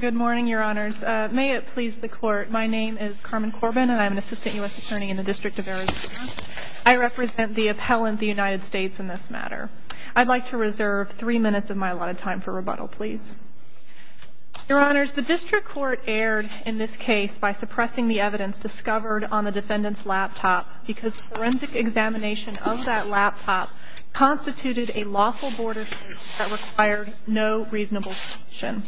Good morning, your honors. May it please the court, my name is Carmen Corbin and I'm an assistant U.S. attorney in the District of Arizona. I represent the appellant, the United States, in this matter. I'd like to reserve three minutes of my allotted time for rebuttal, please. Your honors, the District Court erred in this case by suppressing the evidence discovered on the defendant's laptop because the forensic examination of that laptop constituted a lawful border search that required no reasonable suspicion.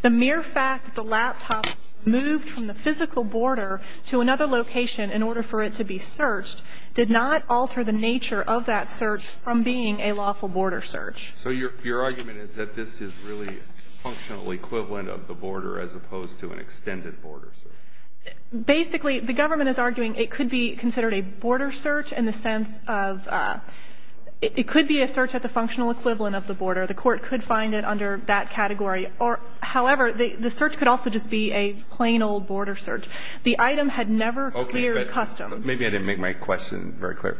The mere fact that the laptop was moved from the physical border to another location in order for it to be searched did not alter the nature of that search from being a lawful border search. So your argument is that this is really a functional equivalent of the border as opposed to an extended border search? Basically, the government is arguing it could be considered a border search in the sense of, it could be a search at the functional equivalent of the border. The court could find it under that category. However, the search could also just be a plain old border search. The item had never cleared customs. Maybe I didn't make my question very clear.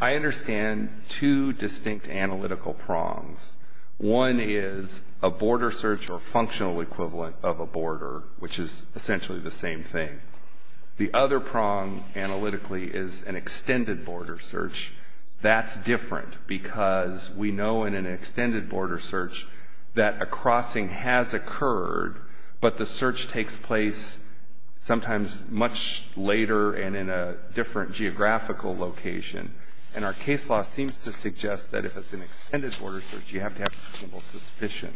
I understand two distinct analytical prongs. One is a border search or functional equivalent of a border, which is essentially the same thing. The other prong analytically is an extended border search. That's different because we know in an extended border search that a crossing has occurred, but the search takes place sometimes much later and in a different geographical location. And our case law seems to suggest that if it's an extended border search, you have to have reasonable suspicion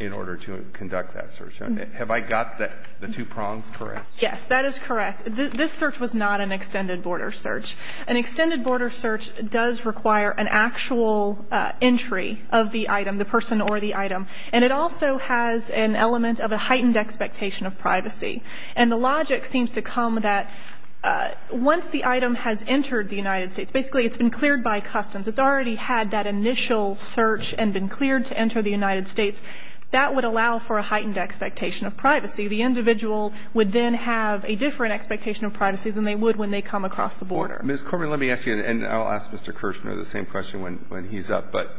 in order to conduct that search. Have I got the two prongs correct? Yes, that is correct. This search was not an extended border search. An extended border search does require an actual entry of the item, the person or the item, and it also has an element of a heightened expectation of privacy. And the logic seems to come that once the item has entered the United States, basically it's been cleared by customs, it's already had that initial search and been cleared to enter the United States, that would allow for a heightened expectation of privacy. The individual would then have a different expectation of privacy than they would when they come across the border. Ms. Corman, let me ask you, and I'll ask Mr. Kirshner the same question when he's up, but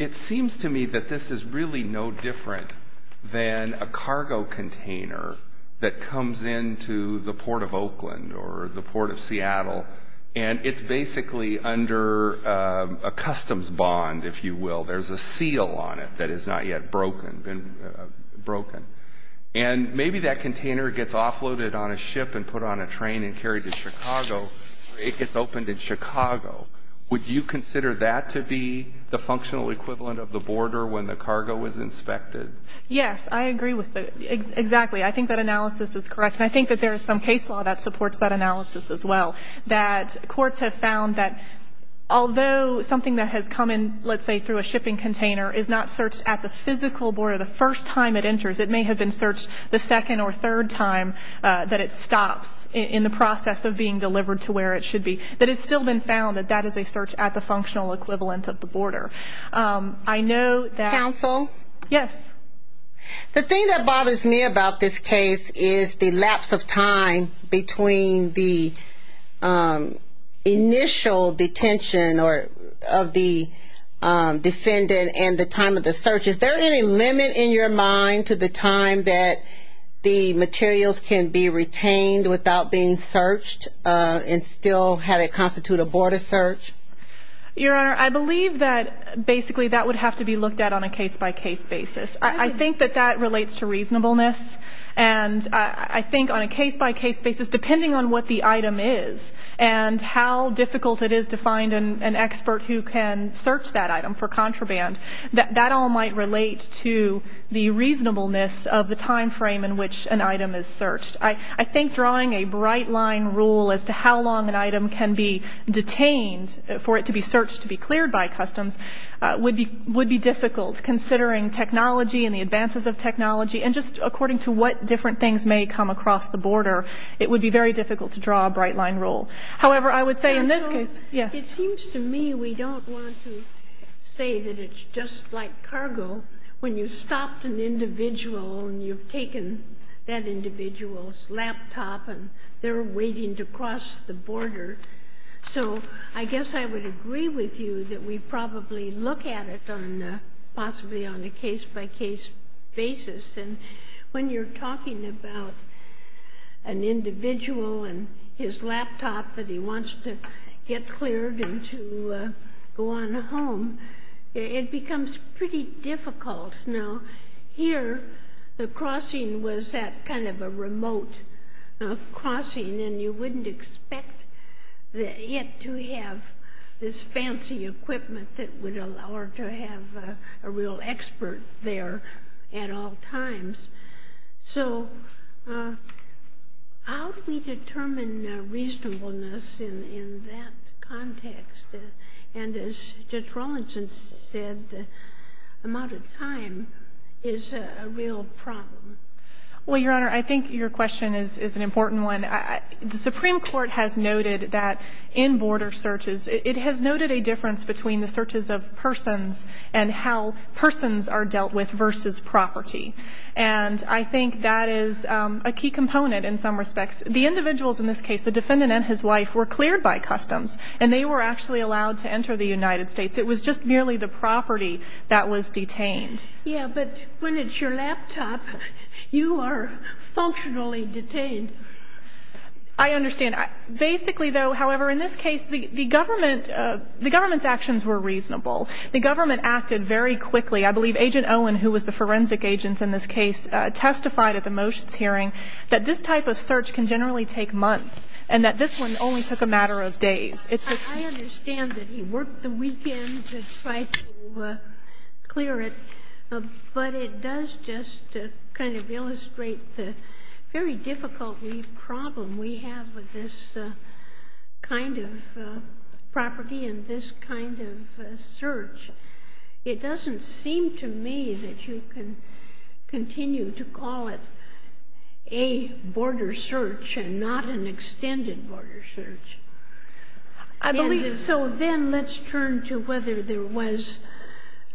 it seems to me that this is really no different than a cargo container that comes into the Port of Oakland or the Port of Seattle, and it's basically under a customs bond, if you will. There's a seal on it that is not yet broken. And maybe that container gets offloaded on a ship and put on a train and carried to Chicago, or it gets opened in Chicago. Would you consider that to be the functional equivalent of the border when the cargo is inspected? Yes. I agree with that. Exactly. I think that analysis is correct. And I think that there is some case law that supports that analysis as well, that courts have found that although something that has come in, let's say, through a shipping container, is not searched at the physical border the first time it enters, it may have been searched the second or third time that it stops in the process of being delivered to where it should be. But it's still been found that that is a search at the functional equivalent of the border. Counsel? Yes. The thing that bothers me about this case is the lapse of time between the initial detention of the defendant and the time of the search. Is there any limit in your mind to the time that the materials can be retained without being searched and still have it constitute a border search? Your Honor, I believe that basically that would have to be looked at on a case-by-case basis. I think that that relates to reasonableness. And I think on a case-by-case basis, depending on what the item is and how difficult it is to find an expert who can search that item for contraband, that all might relate to the reasonableness of the time frame in which an item is searched. I think drawing a bright-line rule as to how long an item can be detained for it to be searched to be cleared by customs would be difficult, considering technology and the advances of technology and just according to what different things may come across the border. It would be very difficult to draw a bright-line rule. However, I would say in this case, yes. Counsel, it seems to me we don't want to say that it's just like cargo. When you've stopped an individual and you've taken that individual's laptop and they're waiting to cross the border. So I guess I would agree with you that we probably look at it possibly on a case-by-case basis. And when you're talking about an individual and his laptop that he wants to get cleared and to go on home, it becomes pretty difficult. Now here, the crossing was that kind of a remote crossing and you wouldn't expect it to have this fancy equipment that would allow her to have a real expert there at all times. So how do we determine reasonableness in that context? And as Judge Rawlinson said, the amount of time is a real problem. Well, Your Honor, I think your question is an important one. The Supreme Court has noted that in border searches, it has noted a difference between the searches of persons and how persons are dealt with versus property. And I think that is a key component in some respects. The individuals in this case, the defendant and his wife, were cleared by customs and they were actually allowed to enter the United States. It was just merely the property that was detained. Yeah, but when it's your laptop, you are functionally detained. I understand. Basically, though, however, in this case, the government's actions were reasonable. The government acted very quickly. I believe Agent Owen, who was the forensic agent in this case, testified at the motions hearing that this type of search can generally take months and that this one only took a matter of days. I understand that he worked the weekend to try to clear it, but it does just kind of illustrate the very difficult problem we have with this kind of property and this kind of search. It doesn't seem to me that you can continue to call it a border search and not an extended border search. So then let's turn to whether there was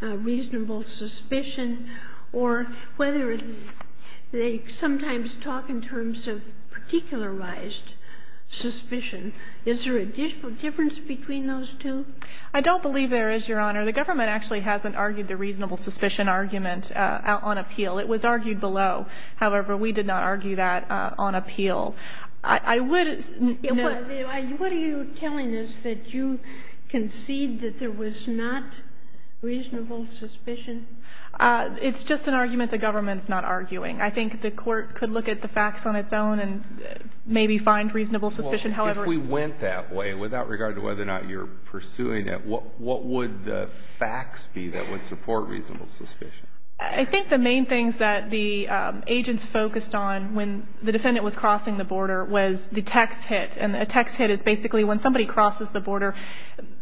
reasonable suspicion or whether they sometimes talk in terms of particularized suspicion. Is there a difference between those two? I don't believe there is, Your Honor. The government actually hasn't argued the reasonable suspicion argument on appeal. It was argued below. However, we did not argue that on appeal. What are you telling us, that you concede that there was not reasonable suspicion? It's just an argument the government's not arguing. I think the Court could look at the facts on its own and maybe find reasonable suspicion. If we went that way, without regard to whether or not you're pursuing it, what would the facts be that would support reasonable suspicion? I think the main things that the agents focused on when the defendant was crossing the border was the text hit. And a text hit is basically when somebody crosses the border,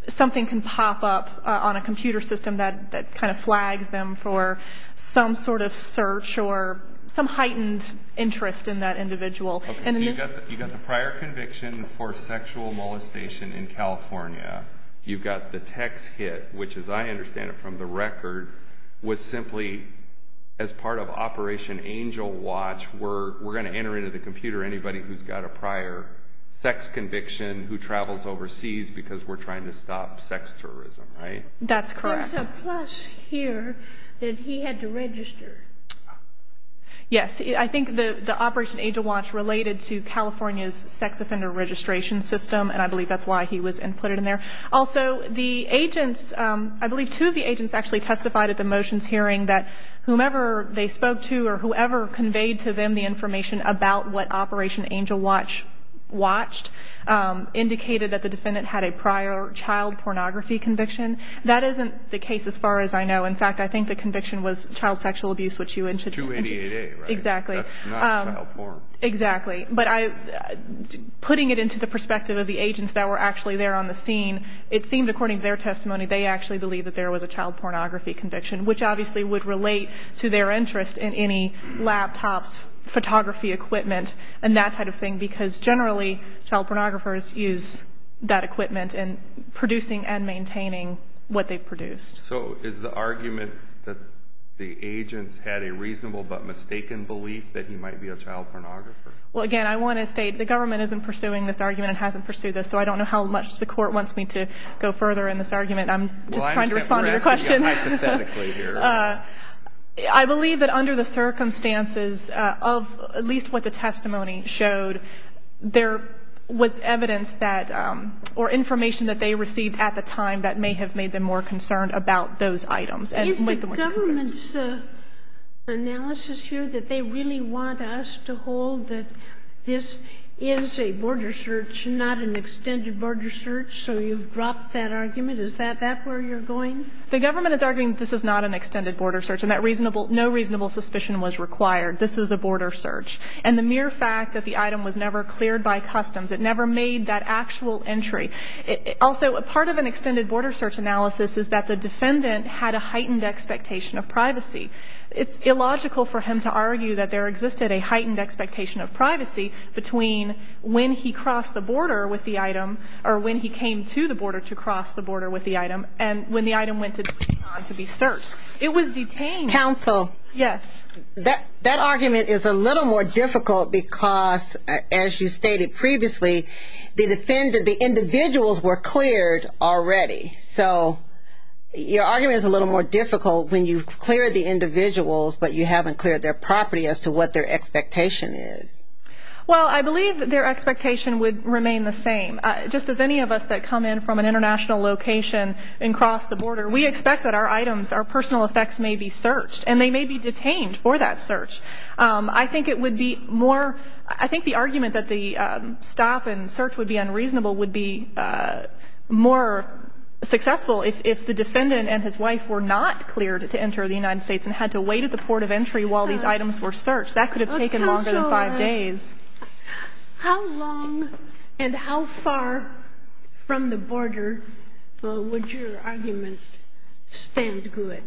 something can pop up on a computer system that kind of flags them for some sort of search or some heightened interest in that individual. You've got the prior conviction for sexual molestation in California. You've got the text hit, which, as I understand it from the record, was simply as part of Operation Angel Watch, we're going to enter into the computer anybody who's got a prior sex conviction who travels overseas because we're trying to stop sex tourism, right? That's correct. There's a plus here that he had to register. Yes. I think the Operation Angel Watch related to California's sex offender registration system, and I believe that's why he was inputted in there. Also, the agents, I believe two of the agents actually testified at the motions hearing that whomever they spoke to or whoever conveyed to them the information about what Operation Angel Watch watched indicated that the defendant had a prior child pornography conviction. That isn't the case as far as I know. In fact, I think the conviction was child sexual abuse, which you mentioned. 288A, right? Exactly. That's not child porn. Exactly. But putting it into the perspective of the agents that were actually there on the scene, it seemed, according to their testimony, they actually believed that there was a child pornography conviction, which obviously would relate to their interest in any laptops, photography equipment, and that type of thing because generally child pornographers use that equipment in producing and maintaining what they've produced. So is the argument that the agents had a reasonable but mistaken belief that he might be a child pornographer? Well, again, I want to state the government isn't pursuing this argument and hasn't pursued this, so I don't know how much the court wants me to go further in this argument. I'm just trying to respond to your question. Well, I'm just going to ask you hypothetically here. I believe that under the circumstances of at least what the testimony showed, there was evidence that or information that they received at the time that may have made them more concerned about those items and made them more concerned. Is the government's analysis here that they really want us to hold that this is a border search, not an extended border search? So you've dropped that argument? Is that where you're going? The government is arguing this is not an extended border search and that no reasonable suspicion was required. This was a border search. And the mere fact that the item was never cleared by customs, it never made that actual entry. Also, a part of an extended border search analysis is that the defendant had a heightened expectation of privacy. It's illogical for him to argue that there existed a heightened expectation of privacy between when he crossed the border with the item or when he came to the border to cross the border with the item and when the item went to be searched. It was detained. Counsel. Yes. That argument is a little more difficult because, as you stated previously, the individuals were cleared already. So your argument is a little more difficult when you've cleared the individuals but you haven't cleared their property as to what their expectation is. Well, I believe their expectation would remain the same. Just as any of us that come in from an international location and cross the border, we expect that our items, our personal effects, may be searched and they may be detained for that search. I think it would be more – I think the argument that the stop and search would be unreasonable would be more successful if the defendant and his wife were not cleared to enter the United States and had to wait at the port of entry while these items were searched. That could have taken longer than five days. Counsel, how long and how far from the border would your argument stand good?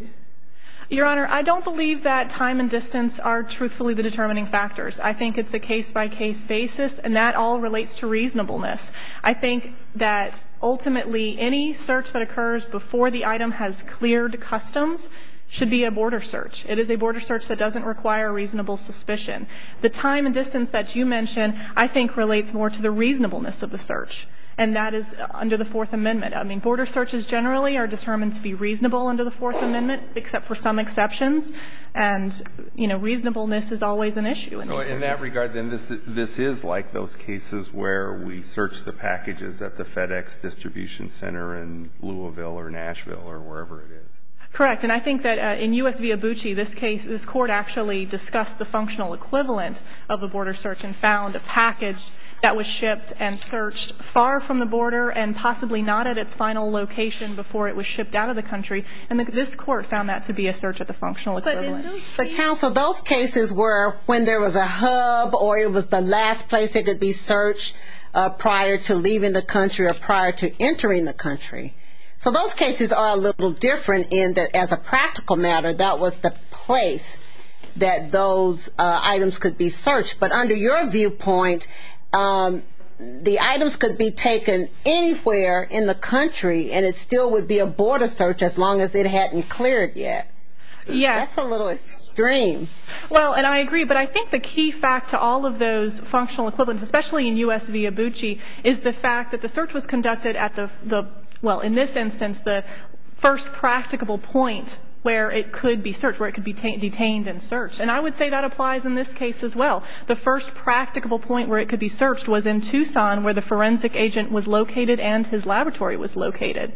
Your Honor, I don't believe that time and distance are truthfully the determining factors. I think it's a case-by-case basis, and that all relates to reasonableness. I think that ultimately any search that occurs before the item has cleared customs should be a border search. It is a border search that doesn't require reasonable suspicion. The time and distance that you mention I think relates more to the reasonableness of the search, and that is under the Fourth Amendment. I mean, border searches generally are determined to be reasonable under the Fourth Amendment, except for some exceptions. And, you know, reasonableness is always an issue in these cases. So in that regard, then, this is like those cases where we search the packages at the FedEx distribution center in Louisville or Nashville or wherever it is? Correct. And I think that in U.S. v. Abucci, this case – this Court actually discussed the functional equivalent of a border search and found a package that was shipped and searched far from the border and possibly not at its final location before it was shipped out of the country, and this Court found that to be a search at the functional equivalent. But, counsel, those cases were when there was a hub or it was the last place it could be searched prior to leaving the country or prior to entering the country. So those cases are a little different in that, as a practical matter, that was the place that those items could be searched. But under your viewpoint, the items could be taken anywhere in the country and it still would be a border search as long as it hadn't cleared yet. Yes. That's a little extreme. Well, and I agree. But I think the key fact to all of those functional equivalents, especially in U.S. v. Abucci, is the fact that the search was conducted at the – well, in this instance, the first practicable point where it could be searched, where it could be detained and searched. And I would say that applies in this case as well. The first practicable point where it could be searched was in Tucson, where the forensic agent was located and his laboratory was located.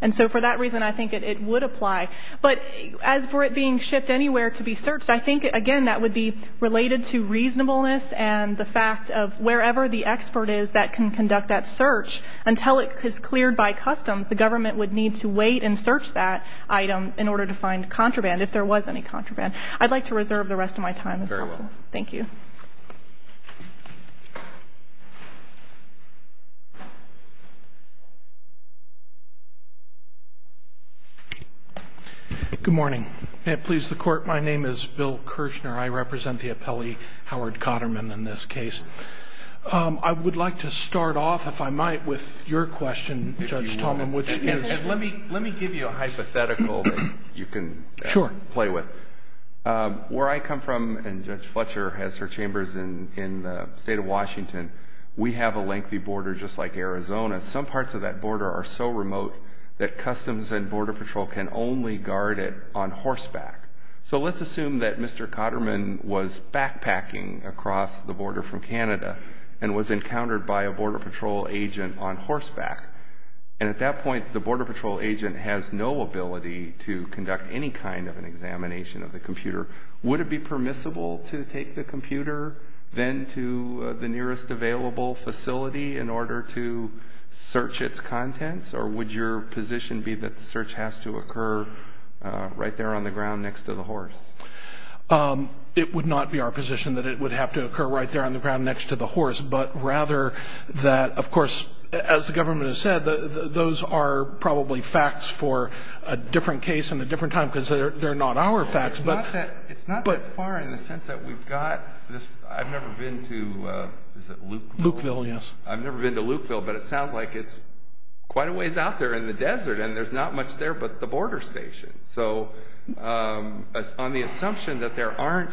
And so for that reason, I think it would apply. But as for it being shipped anywhere to be searched, I think, again, that would be related to reasonableness and the fact of wherever the expert is that can conduct that search, until it is cleared by customs, the government would need to wait and search that item in order to find contraband, if there was any contraband. I'd like to reserve the rest of my time. Very well. Thank you. Good morning. May it please the Court, my name is Bill Kirshner. I represent the appellee, Howard Cotterman, in this case. I would like to start off, if I might, with your question, Judge Tallman, which is – And let me give you a hypothetical that you can – Sure. – play with. Where I come from, and Judge Fletcher has her chambers in the state of Washington, we have a lengthy border just like Arizona. Some parts of that border are so remote that customs and Border Patrol can only guard it on horseback. So let's assume that Mr. Cotterman was backpacking across the border from Canada and was encountered by a Border Patrol agent on horseback. And at that point, the Border Patrol agent has no ability to conduct any kind of an examination of the computer. Would it be permissible to take the computer then to the nearest available facility in order to search its contents, or would your position be that the search has to occur right there on the ground next to the horse? It would not be our position that it would have to occur right there on the ground next to the horse, but rather that, of course, as the government has said, those are probably facts for a different case and a different time because they're not our facts. It's not that far in the sense that we've got this – I've never been to – is it Lukeville? Lukeville, yes. I've never been to Lukeville, but it sounds like it's quite a ways out there in the desert, and there's not much there but the border station. So on the assumption that there aren't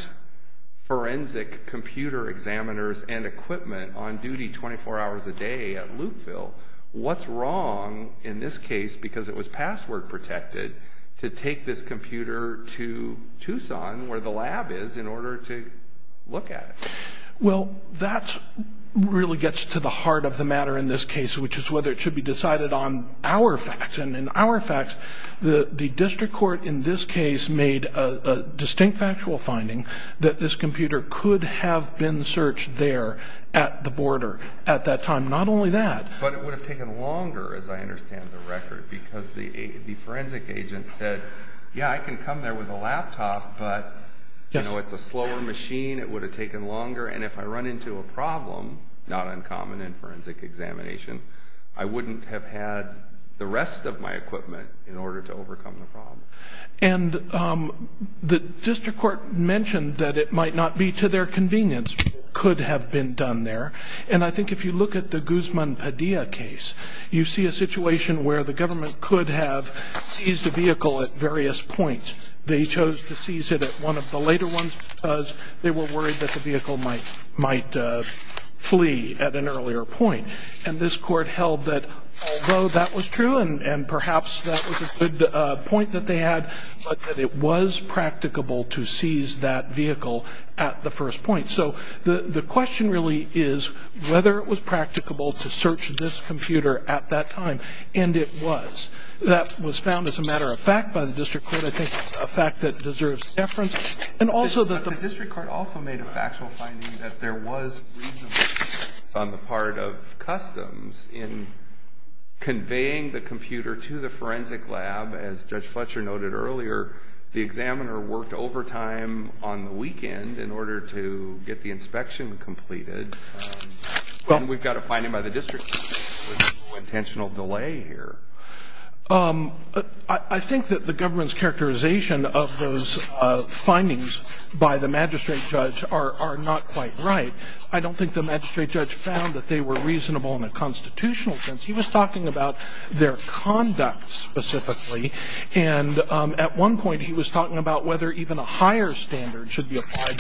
forensic computer examiners and equipment on duty 24 hours a day at Lukeville, what's wrong in this case, because it was password protected, to take this computer to Tucson, where the lab is, in order to look at it? Well, that really gets to the heart of the matter in this case, which is whether it should be decided on our facts. And in our facts, the district court in this case made a distinct factual finding that this computer could have been searched there at the border at that time. Not only that. But it would have taken longer, as I understand the record, because the forensic agent said, yeah, I can come there with a laptop, but it's a slower machine, it would have taken longer, and if I run into a problem, not uncommon in forensic examination, I wouldn't have had the rest of my equipment in order to overcome the problem. And the district court mentioned that it might not be to their convenience. It could have been done there. And I think if you look at the Guzman Padilla case, you see a situation where the government could have seized a vehicle at various points. They chose to seize it at one of the later ones because they were worried that the vehicle might flee at an earlier point. And this court held that, although that was true, and perhaps that was a good point that they had, but that it was practicable to seize that vehicle at the first point. So the question really is whether it was practicable to search this computer at that time. And it was. That was found as a matter of fact by the district court. I think it's a fact that deserves deference. But the district court also made a factual finding that there was reasonableness on the part of customs in conveying the computer to the forensic lab. As Judge Fletcher noted earlier, the examiner worked overtime on the weekend in order to get the inspection completed. And we've got a finding by the district court that there was no intentional delay here. I think that the government's characterization of those findings by the magistrate judge are not quite right. I don't think the magistrate judge found that they were reasonable in a constitutional sense. He was talking about their conduct specifically. And at one point he was talking about whether even a higher standard should be applied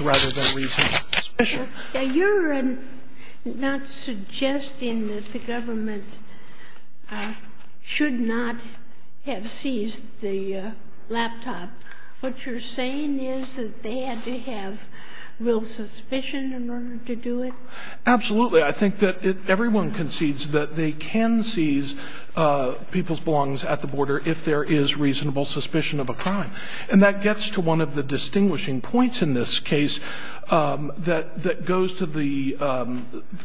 rather than reasonable. You're not suggesting that the government should not have seized the laptop. What you're saying is that they had to have real suspicion in order to do it? Absolutely. I think that everyone concedes that they can seize people's belongings at the border if there is reasonable suspicion of a crime. And that gets to one of the distinguishing points in this case that goes to the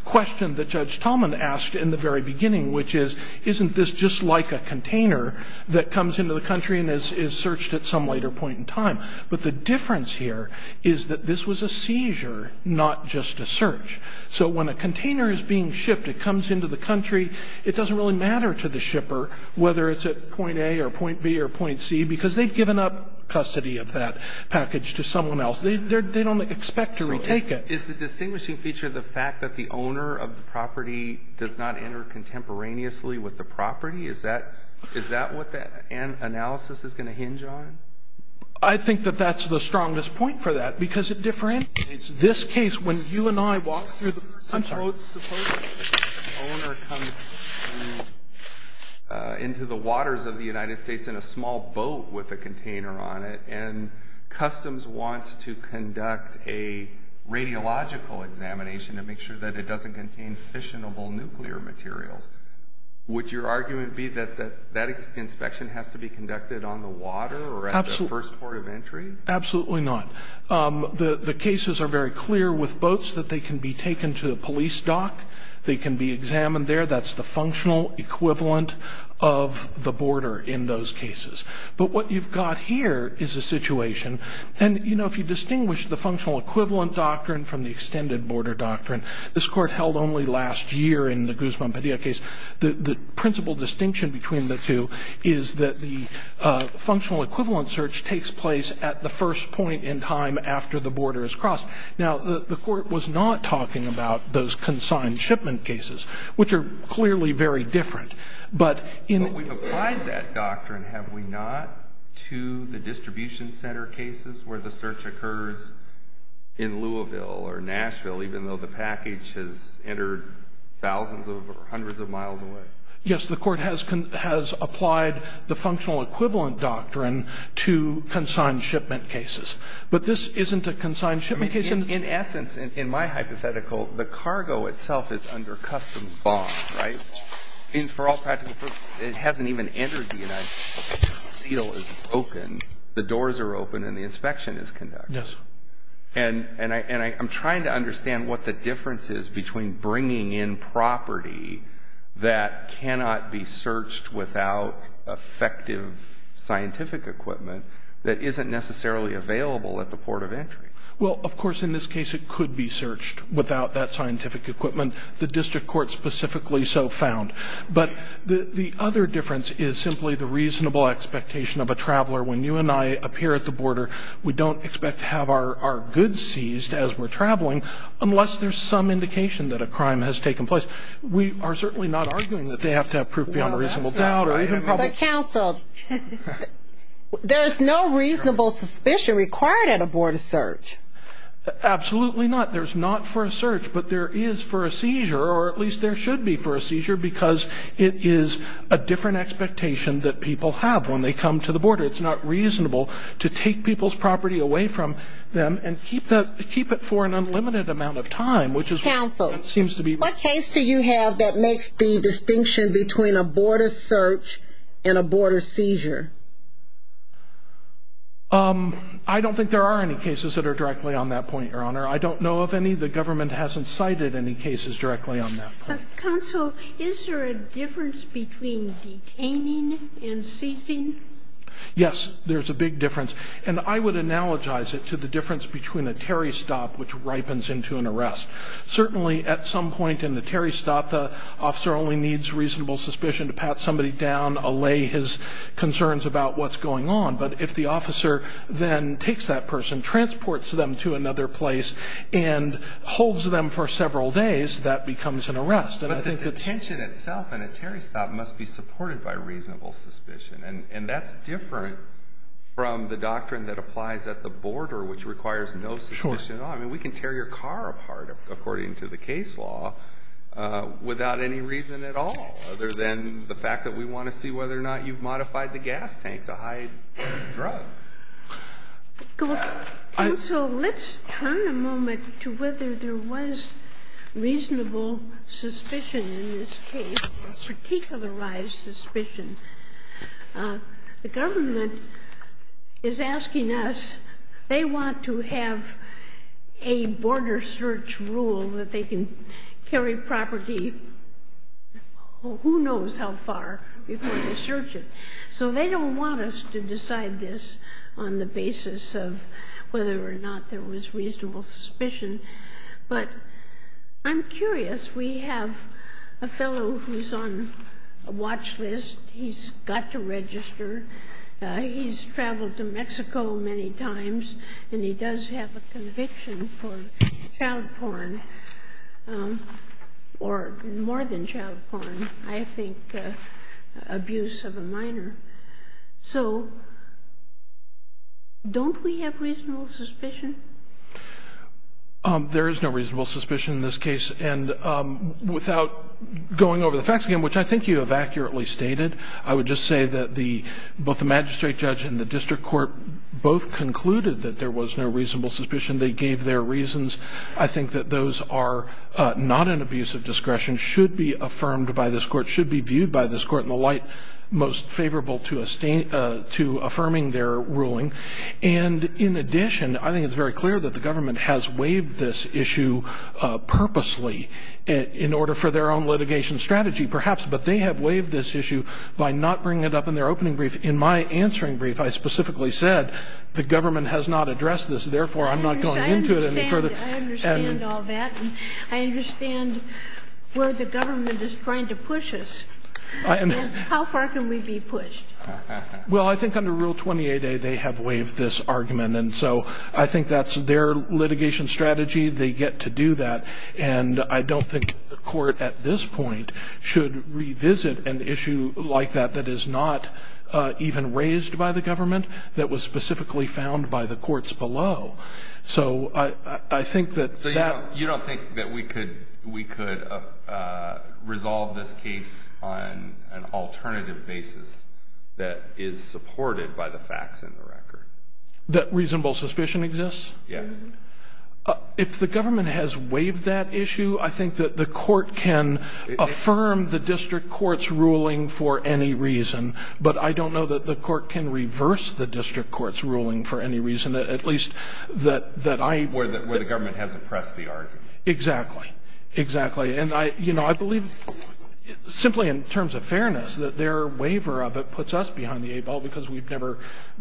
question that Judge Tallman asked in the very beginning, which is, isn't this just like a container that comes into the country and is searched at some later point in time? But the difference here is that this was a seizure, not just a search. So when a container is being shipped, it comes into the country. It doesn't really matter to the shipper whether it's at point A or point B or point C, because they've given up custody of that package to someone else. They don't expect to retake it. So is the distinguishing feature the fact that the owner of the property does not enter contemporaneously with the property? Is that what that analysis is going to hinge on? I think that that's the strongest point for that, because it differentiates this case. When you and I walk through the first road, suppose the owner comes into the waters of the United States in a small boat with a container on it, and Customs wants to conduct a radiological examination to make sure that it doesn't contain fissionable nuclear materials, would your argument be that that inspection has to be conducted on the water or at the first port of entry? Absolutely not. The cases are very clear with boats that they can be taken to the police dock. They can be examined there. That's the functional equivalent of the border in those cases. But what you've got here is a situation. And, you know, if you distinguish the functional equivalent doctrine from the extended border doctrine, this Court held only last year in the Guzman-Padilla case, the principal distinction between the two is that the functional equivalent search takes place at the first point in time after the border is crossed. Now, the Court was not talking about those consigned shipment cases, which are clearly very different. But in the ---- But we've applied that doctrine, have we not, to the distribution center cases where the search occurs in Louisville or Nashville, even though the package has entered thousands or hundreds of miles away? Yes, the Court has applied the functional equivalent doctrine to consigned shipment cases. But this isn't a consigned shipment case. In essence, in my hypothetical, the cargo itself is under custom bond, right? For all practical purposes, it hasn't even entered the United States. The seal is broken, the doors are open, and the inspection is conducted. Yes. And I'm trying to understand what the difference is between bringing in property that cannot be searched without effective scientific equipment that isn't necessarily available at the port of entry. Well, of course, in this case, it could be searched without that scientific equipment. The district court specifically so found. But the other difference is simply the reasonable expectation of a traveler. When you and I appear at the border, we don't expect to have our goods seized as we're traveling, unless there's some indication that a crime has taken place. We are certainly not arguing that they have to have proof beyond a reasonable doubt. But, counsel, there's no reasonable suspicion required at a border search. Absolutely not. There's not for a search. But there is for a seizure, or at least there should be for a seizure, it's not reasonable to take people's property away from them and keep it for an unlimited amount of time, which is what it seems to be. Counsel, what case do you have that makes the distinction between a border search and a border seizure? I don't think there are any cases that are directly on that point, Your Honor. I don't know of any. The government hasn't cited any cases directly on that. Counsel, is there a difference between detaining and seizing? Yes, there's a big difference. And I would analogize it to the difference between a Terry stop, which ripens into an arrest. Certainly, at some point in the Terry stop, the officer only needs reasonable suspicion to pat somebody down, allay his concerns about what's going on. But if the officer then takes that person, transports them to another place, and holds them for several days, that becomes an arrest. But the detention itself in a Terry stop must be supported by reasonable suspicion. And that's different from the doctrine that applies at the border, which requires no suspicion at all. I mean, we can tear your car apart, according to the case law, without any reason at all, other than the fact that we want to see whether or not you've modified the gas tank to hide the drug. Counsel, let's turn a moment to whether there was reasonable suspicion in this case, particularized suspicion. The government is asking us, they want to have a border search rule that they can carry property who knows how far before they search it. So they don't want us to decide this on the basis of whether or not there was reasonable suspicion. But I'm curious. We have a fellow who's on a watch list. He's got to register. He's traveled to Mexico many times, and he does have a conviction for child porn, or more than child porn. I think abuse of a minor. So don't we have reasonable suspicion? There is no reasonable suspicion in this case. And without going over the facts again, which I think you have accurately stated, I would just say that both the magistrate judge and the district court both concluded that there was no reasonable suspicion. They gave their reasons. I think that those are not an abuse of discretion, should be affirmed by this Court, should be viewed by this Court in the light most favorable to affirming their ruling. And in addition, I think it's very clear that the government has waived this issue purposely in order for their own litigation strategy, perhaps. But they have waived this issue by not bringing it up in their opening brief. In my answering brief, I specifically said the government has not addressed this, therefore I'm not going into it any further. I understand. I understand all that. I understand where the government is trying to push us. How far can we be pushed? Well, I think under Rule 28A they have waived this argument. And so I think that's their litigation strategy. They get to do that. And I don't think the Court at this point should revisit an issue like that that is not even raised by the government, that was specifically found by the courts below. So I think that that. So you don't think that we could resolve this case on an alternative basis that is supported by the facts in the record? That reasonable suspicion exists? Yes. If the government has waived that issue, I think that the Court can affirm the district court's ruling for any reason. But I don't know that the Court can reverse the district court's ruling for any reason. At least that I. Where the government hasn't pressed the argument. Exactly. Exactly. And, you know, I believe simply in terms of fairness that their waiver of it puts us behind the eight ball because we've never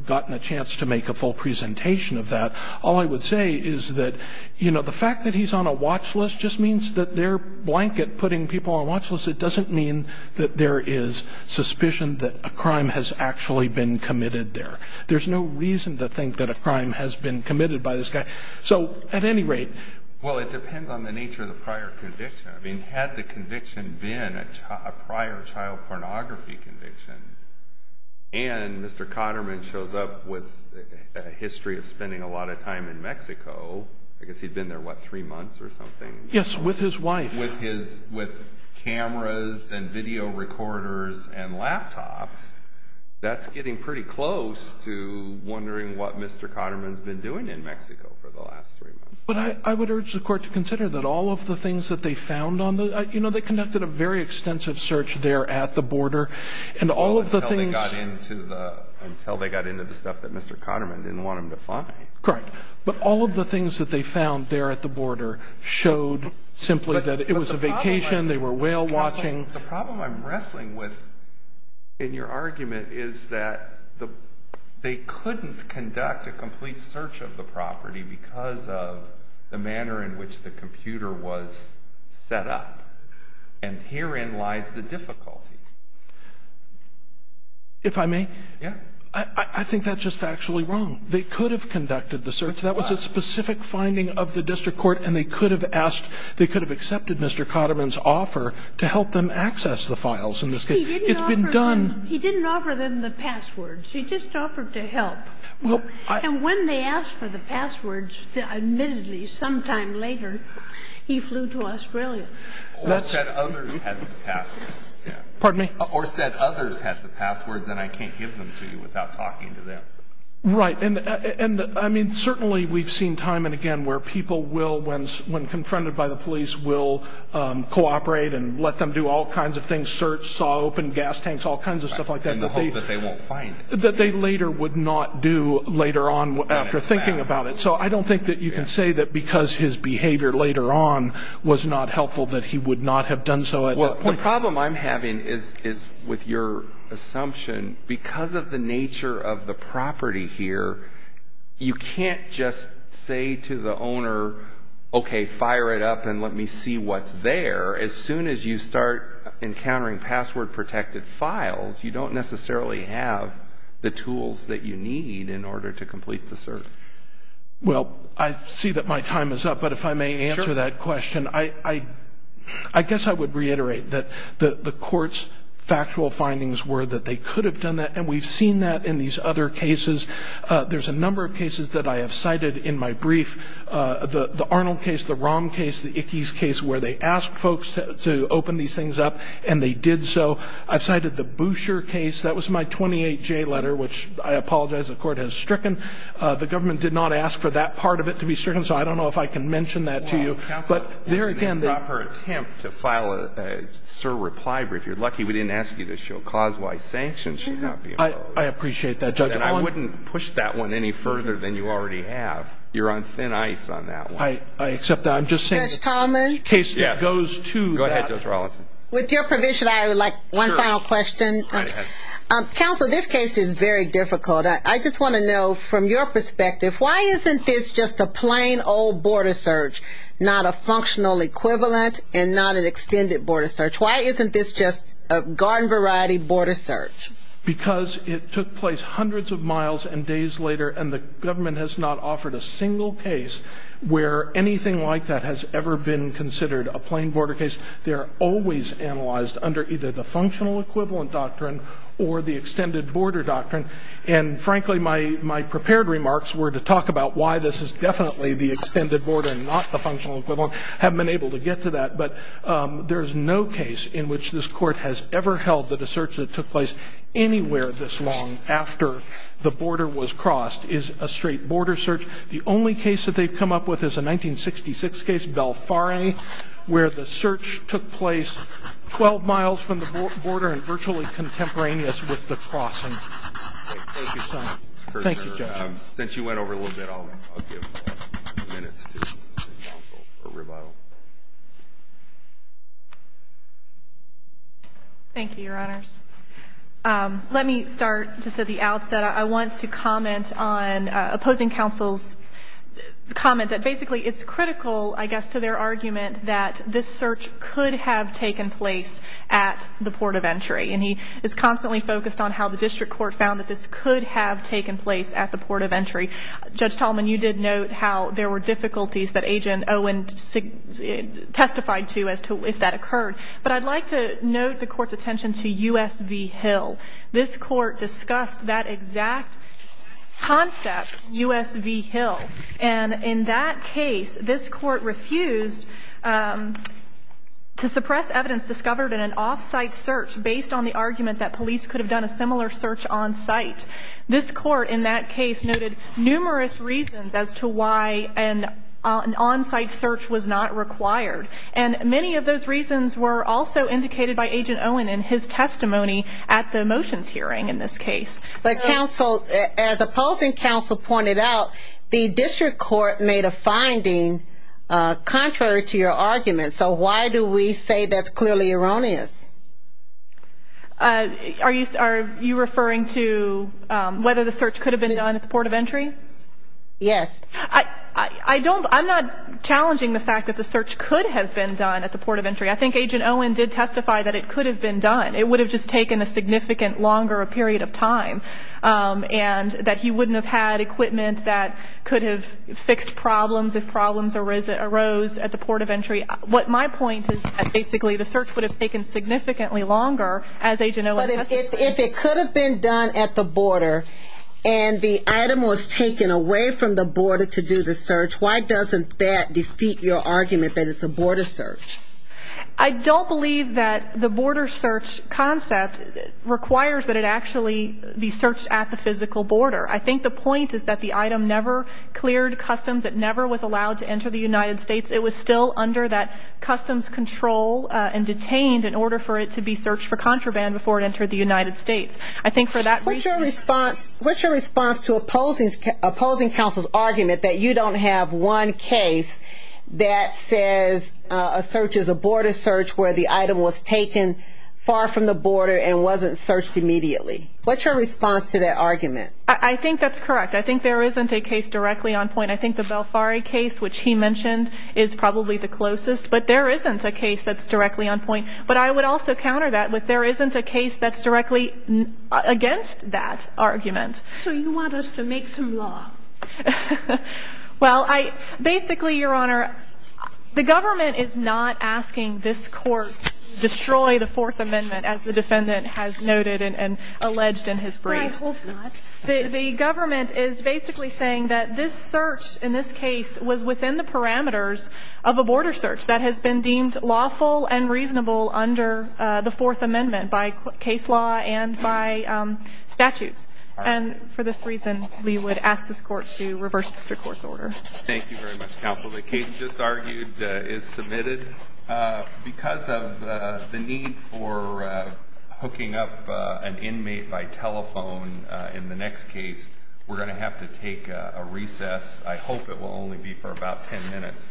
gotten a chance to make a full presentation of that. All I would say is that, you know, the fact that he's on a watch list just means that they're blanket putting people on watch lists. It doesn't mean that there is suspicion that a crime has actually been committed there. There's no reason to think that a crime has been committed by this guy. So, at any rate. Well, it depends on the nature of the prior conviction. I mean, had the conviction been a prior child pornography conviction, and Mr. Cotterman shows up with a history of spending a lot of time in Mexico, I guess he'd been there, what, three months or something? Yes, with his wife. With cameras and video recorders and laptops, that's getting pretty close to wondering what Mr. Cotterman's been doing in Mexico for the last three months. But I would urge the court to consider that all of the things that they found on the, you know, they conducted a very extensive search there at the border, and all of the things. Until they got into the stuff that Mr. Cotterman didn't want them to find. Correct. But all of the things that they found there at the border showed simply that it was a vacation, they were whale watching. The problem I'm wrestling with in your argument is that they couldn't conduct a complete search of the property because of the manner in which the computer was set up. And herein lies the difficulty. If I may? Yeah. I think that's just factually wrong. They could have conducted the search. That was a specific finding of the district court. And they could have asked, they could have accepted Mr. Cotterman's offer to help them access the files in this case. It's been done. He didn't offer them the passwords. He just offered to help. And when they asked for the passwords, admittedly, sometime later, he flew to Australia. Or said others had the passwords. Pardon me? Or said others had the passwords and I can't give them to you without talking to them. Right. And, I mean, certainly we've seen time and again where people will, when confronted by the police, will cooperate and let them do all kinds of things. Search, saw open gas tanks, all kinds of stuff like that. In the hope that they won't find it. That they later would not do later on after thinking about it. So I don't think that you can say that because his behavior later on was not helpful that he would not have done so at that point. Well, the problem I'm having is with your assumption. Because of the nature of the property here, you can't just say to the owner, okay, fire it up and let me see what's there. As soon as you start encountering password protected files, you don't necessarily have the tools that you need in order to complete the search. Well, I see that my time is up. But if I may answer that question. Sure. I guess I would reiterate that the court's factual findings were that they could have done that. And we've seen that in these other cases. There's a number of cases that I have cited in my brief. The Arnold case, the Rom case, the Ickes case where they asked folks to open these things up. And they did so. I've cited the Boucher case. That was my 28-J letter, which I apologize the court has stricken. The government did not ask for that part of it to be stricken. So I don't know if I can mention that to you. Counsel, there again, the proper attempt to file a SIR reply brief. You're lucky we didn't ask you to show cause-wise sanctions. I appreciate that, Judge. And I wouldn't push that one any further than you already have. You're on thin ice on that one. I accept that. I'm just saying. Judge Tomlin. The case that goes to that. Go ahead, Judge Rollins. With your permission, I would like one final question. Go ahead. Counsel, this case is very difficult. I just want to know from your perspective, why isn't this just a plain old border search? Not a functional equivalent and not an extended border search? Why isn't this just a garden variety border search? Because it took place hundreds of miles and days later. And the government has not offered a single case where anything like that has ever been considered a plain border case. They're always analyzed under either the functional equivalent doctrine or the extended border doctrine. And, frankly, my prepared remarks were to talk about why this is definitely the extended border and not the functional equivalent. I haven't been able to get to that. But there is no case in which this court has ever held that a search that took place anywhere this long after the border was crossed is a straight border search. The only case that they've come up with is a 1966 case, Belfarre, where the search took place 12 miles from the border and virtually contemporaneous with the crossing. Thank you, Your Honor. Thank you, Judge. Since you went over a little bit, I'll give a few minutes to counsel or rebuttal. Thank you, Your Honors. Let me start just at the outset. I want to comment on opposing counsel's comment that basically it's critical, I guess, to their argument that this search could have taken place at the port of entry. And he is constantly focused on how the district court found that this could have taken place at the port of entry. Judge Tallman, you did note how there were difficulties that Agent Owen testified to as to if that occurred. But I'd like to note the court's attention to U.S. v. Hill. This court discussed that exact concept, U.S. v. Hill. And in that case, this court refused to suppress evidence discovered in an off-site search based on the argument that police could have done a similar search on-site. This court in that case noted numerous reasons as to why an on-site search was not required. And many of those reasons were also indicated by Agent Owen in his testimony at the motions hearing in this case. But counsel, as opposing counsel pointed out, the district court made a finding contrary to your argument. So why do we say that's clearly erroneous? Are you referring to whether the search could have been done at the port of entry? Yes. I'm not challenging the fact that the search could have been done at the port of entry. I think Agent Owen did testify that it could have been done. It would have just taken a significant longer period of time and that he wouldn't have had equipment that could have fixed problems if problems arose at the port of entry. What my point is that basically the search would have taken significantly longer as Agent Owen testified. If it could have been done at the border and the item was taken away from the border to do the search, why doesn't that defeat your argument that it's a border search? I don't believe that the border search concept requires that it actually be searched at the physical border. I think the point is that the item never cleared customs. It never was allowed to enter the United States. It was still under that customs control and detained in order for it to be searched for contraband before it entered the United States. What's your response to opposing counsel's argument that you don't have one case that says a search is a border search where the item was taken far from the border and wasn't searched immediately? What's your response to that argument? I think that's correct. I think there isn't a case directly on point. I think the Balfari case, which he mentioned, is probably the closest. But there isn't a case that's directly on point. But I would also counter that with there isn't a case that's directly against that argument. So you want us to make some law? Well, basically, Your Honor, the government is not asking this Court to destroy the Fourth Amendment, as the defendant has noted and alleged in his briefs. I hope not. The government is basically saying that this search in this case was within the parameters of a border search that has been deemed lawful and reasonable under the Fourth Amendment by case law and by statutes. And for this reason, we would ask this Court to reverse the court's order. Thank you very much, counsel. The case just argued is submitted. Because of the need for hooking up an inmate by telephone in the next case, we're going to have to take a recess. I hope it will only be for about 10 minutes.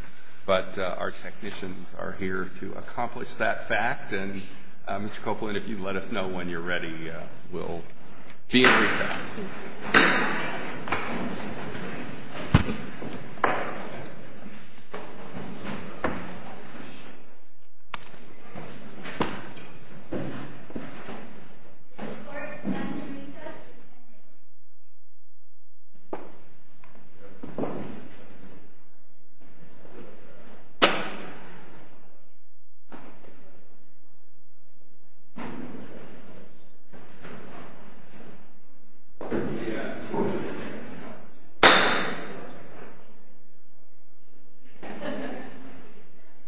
But our technicians are here to accomplish that fact. And Mr. Copeland, if you'd let us know when you're ready, we'll be in recess. Thank you.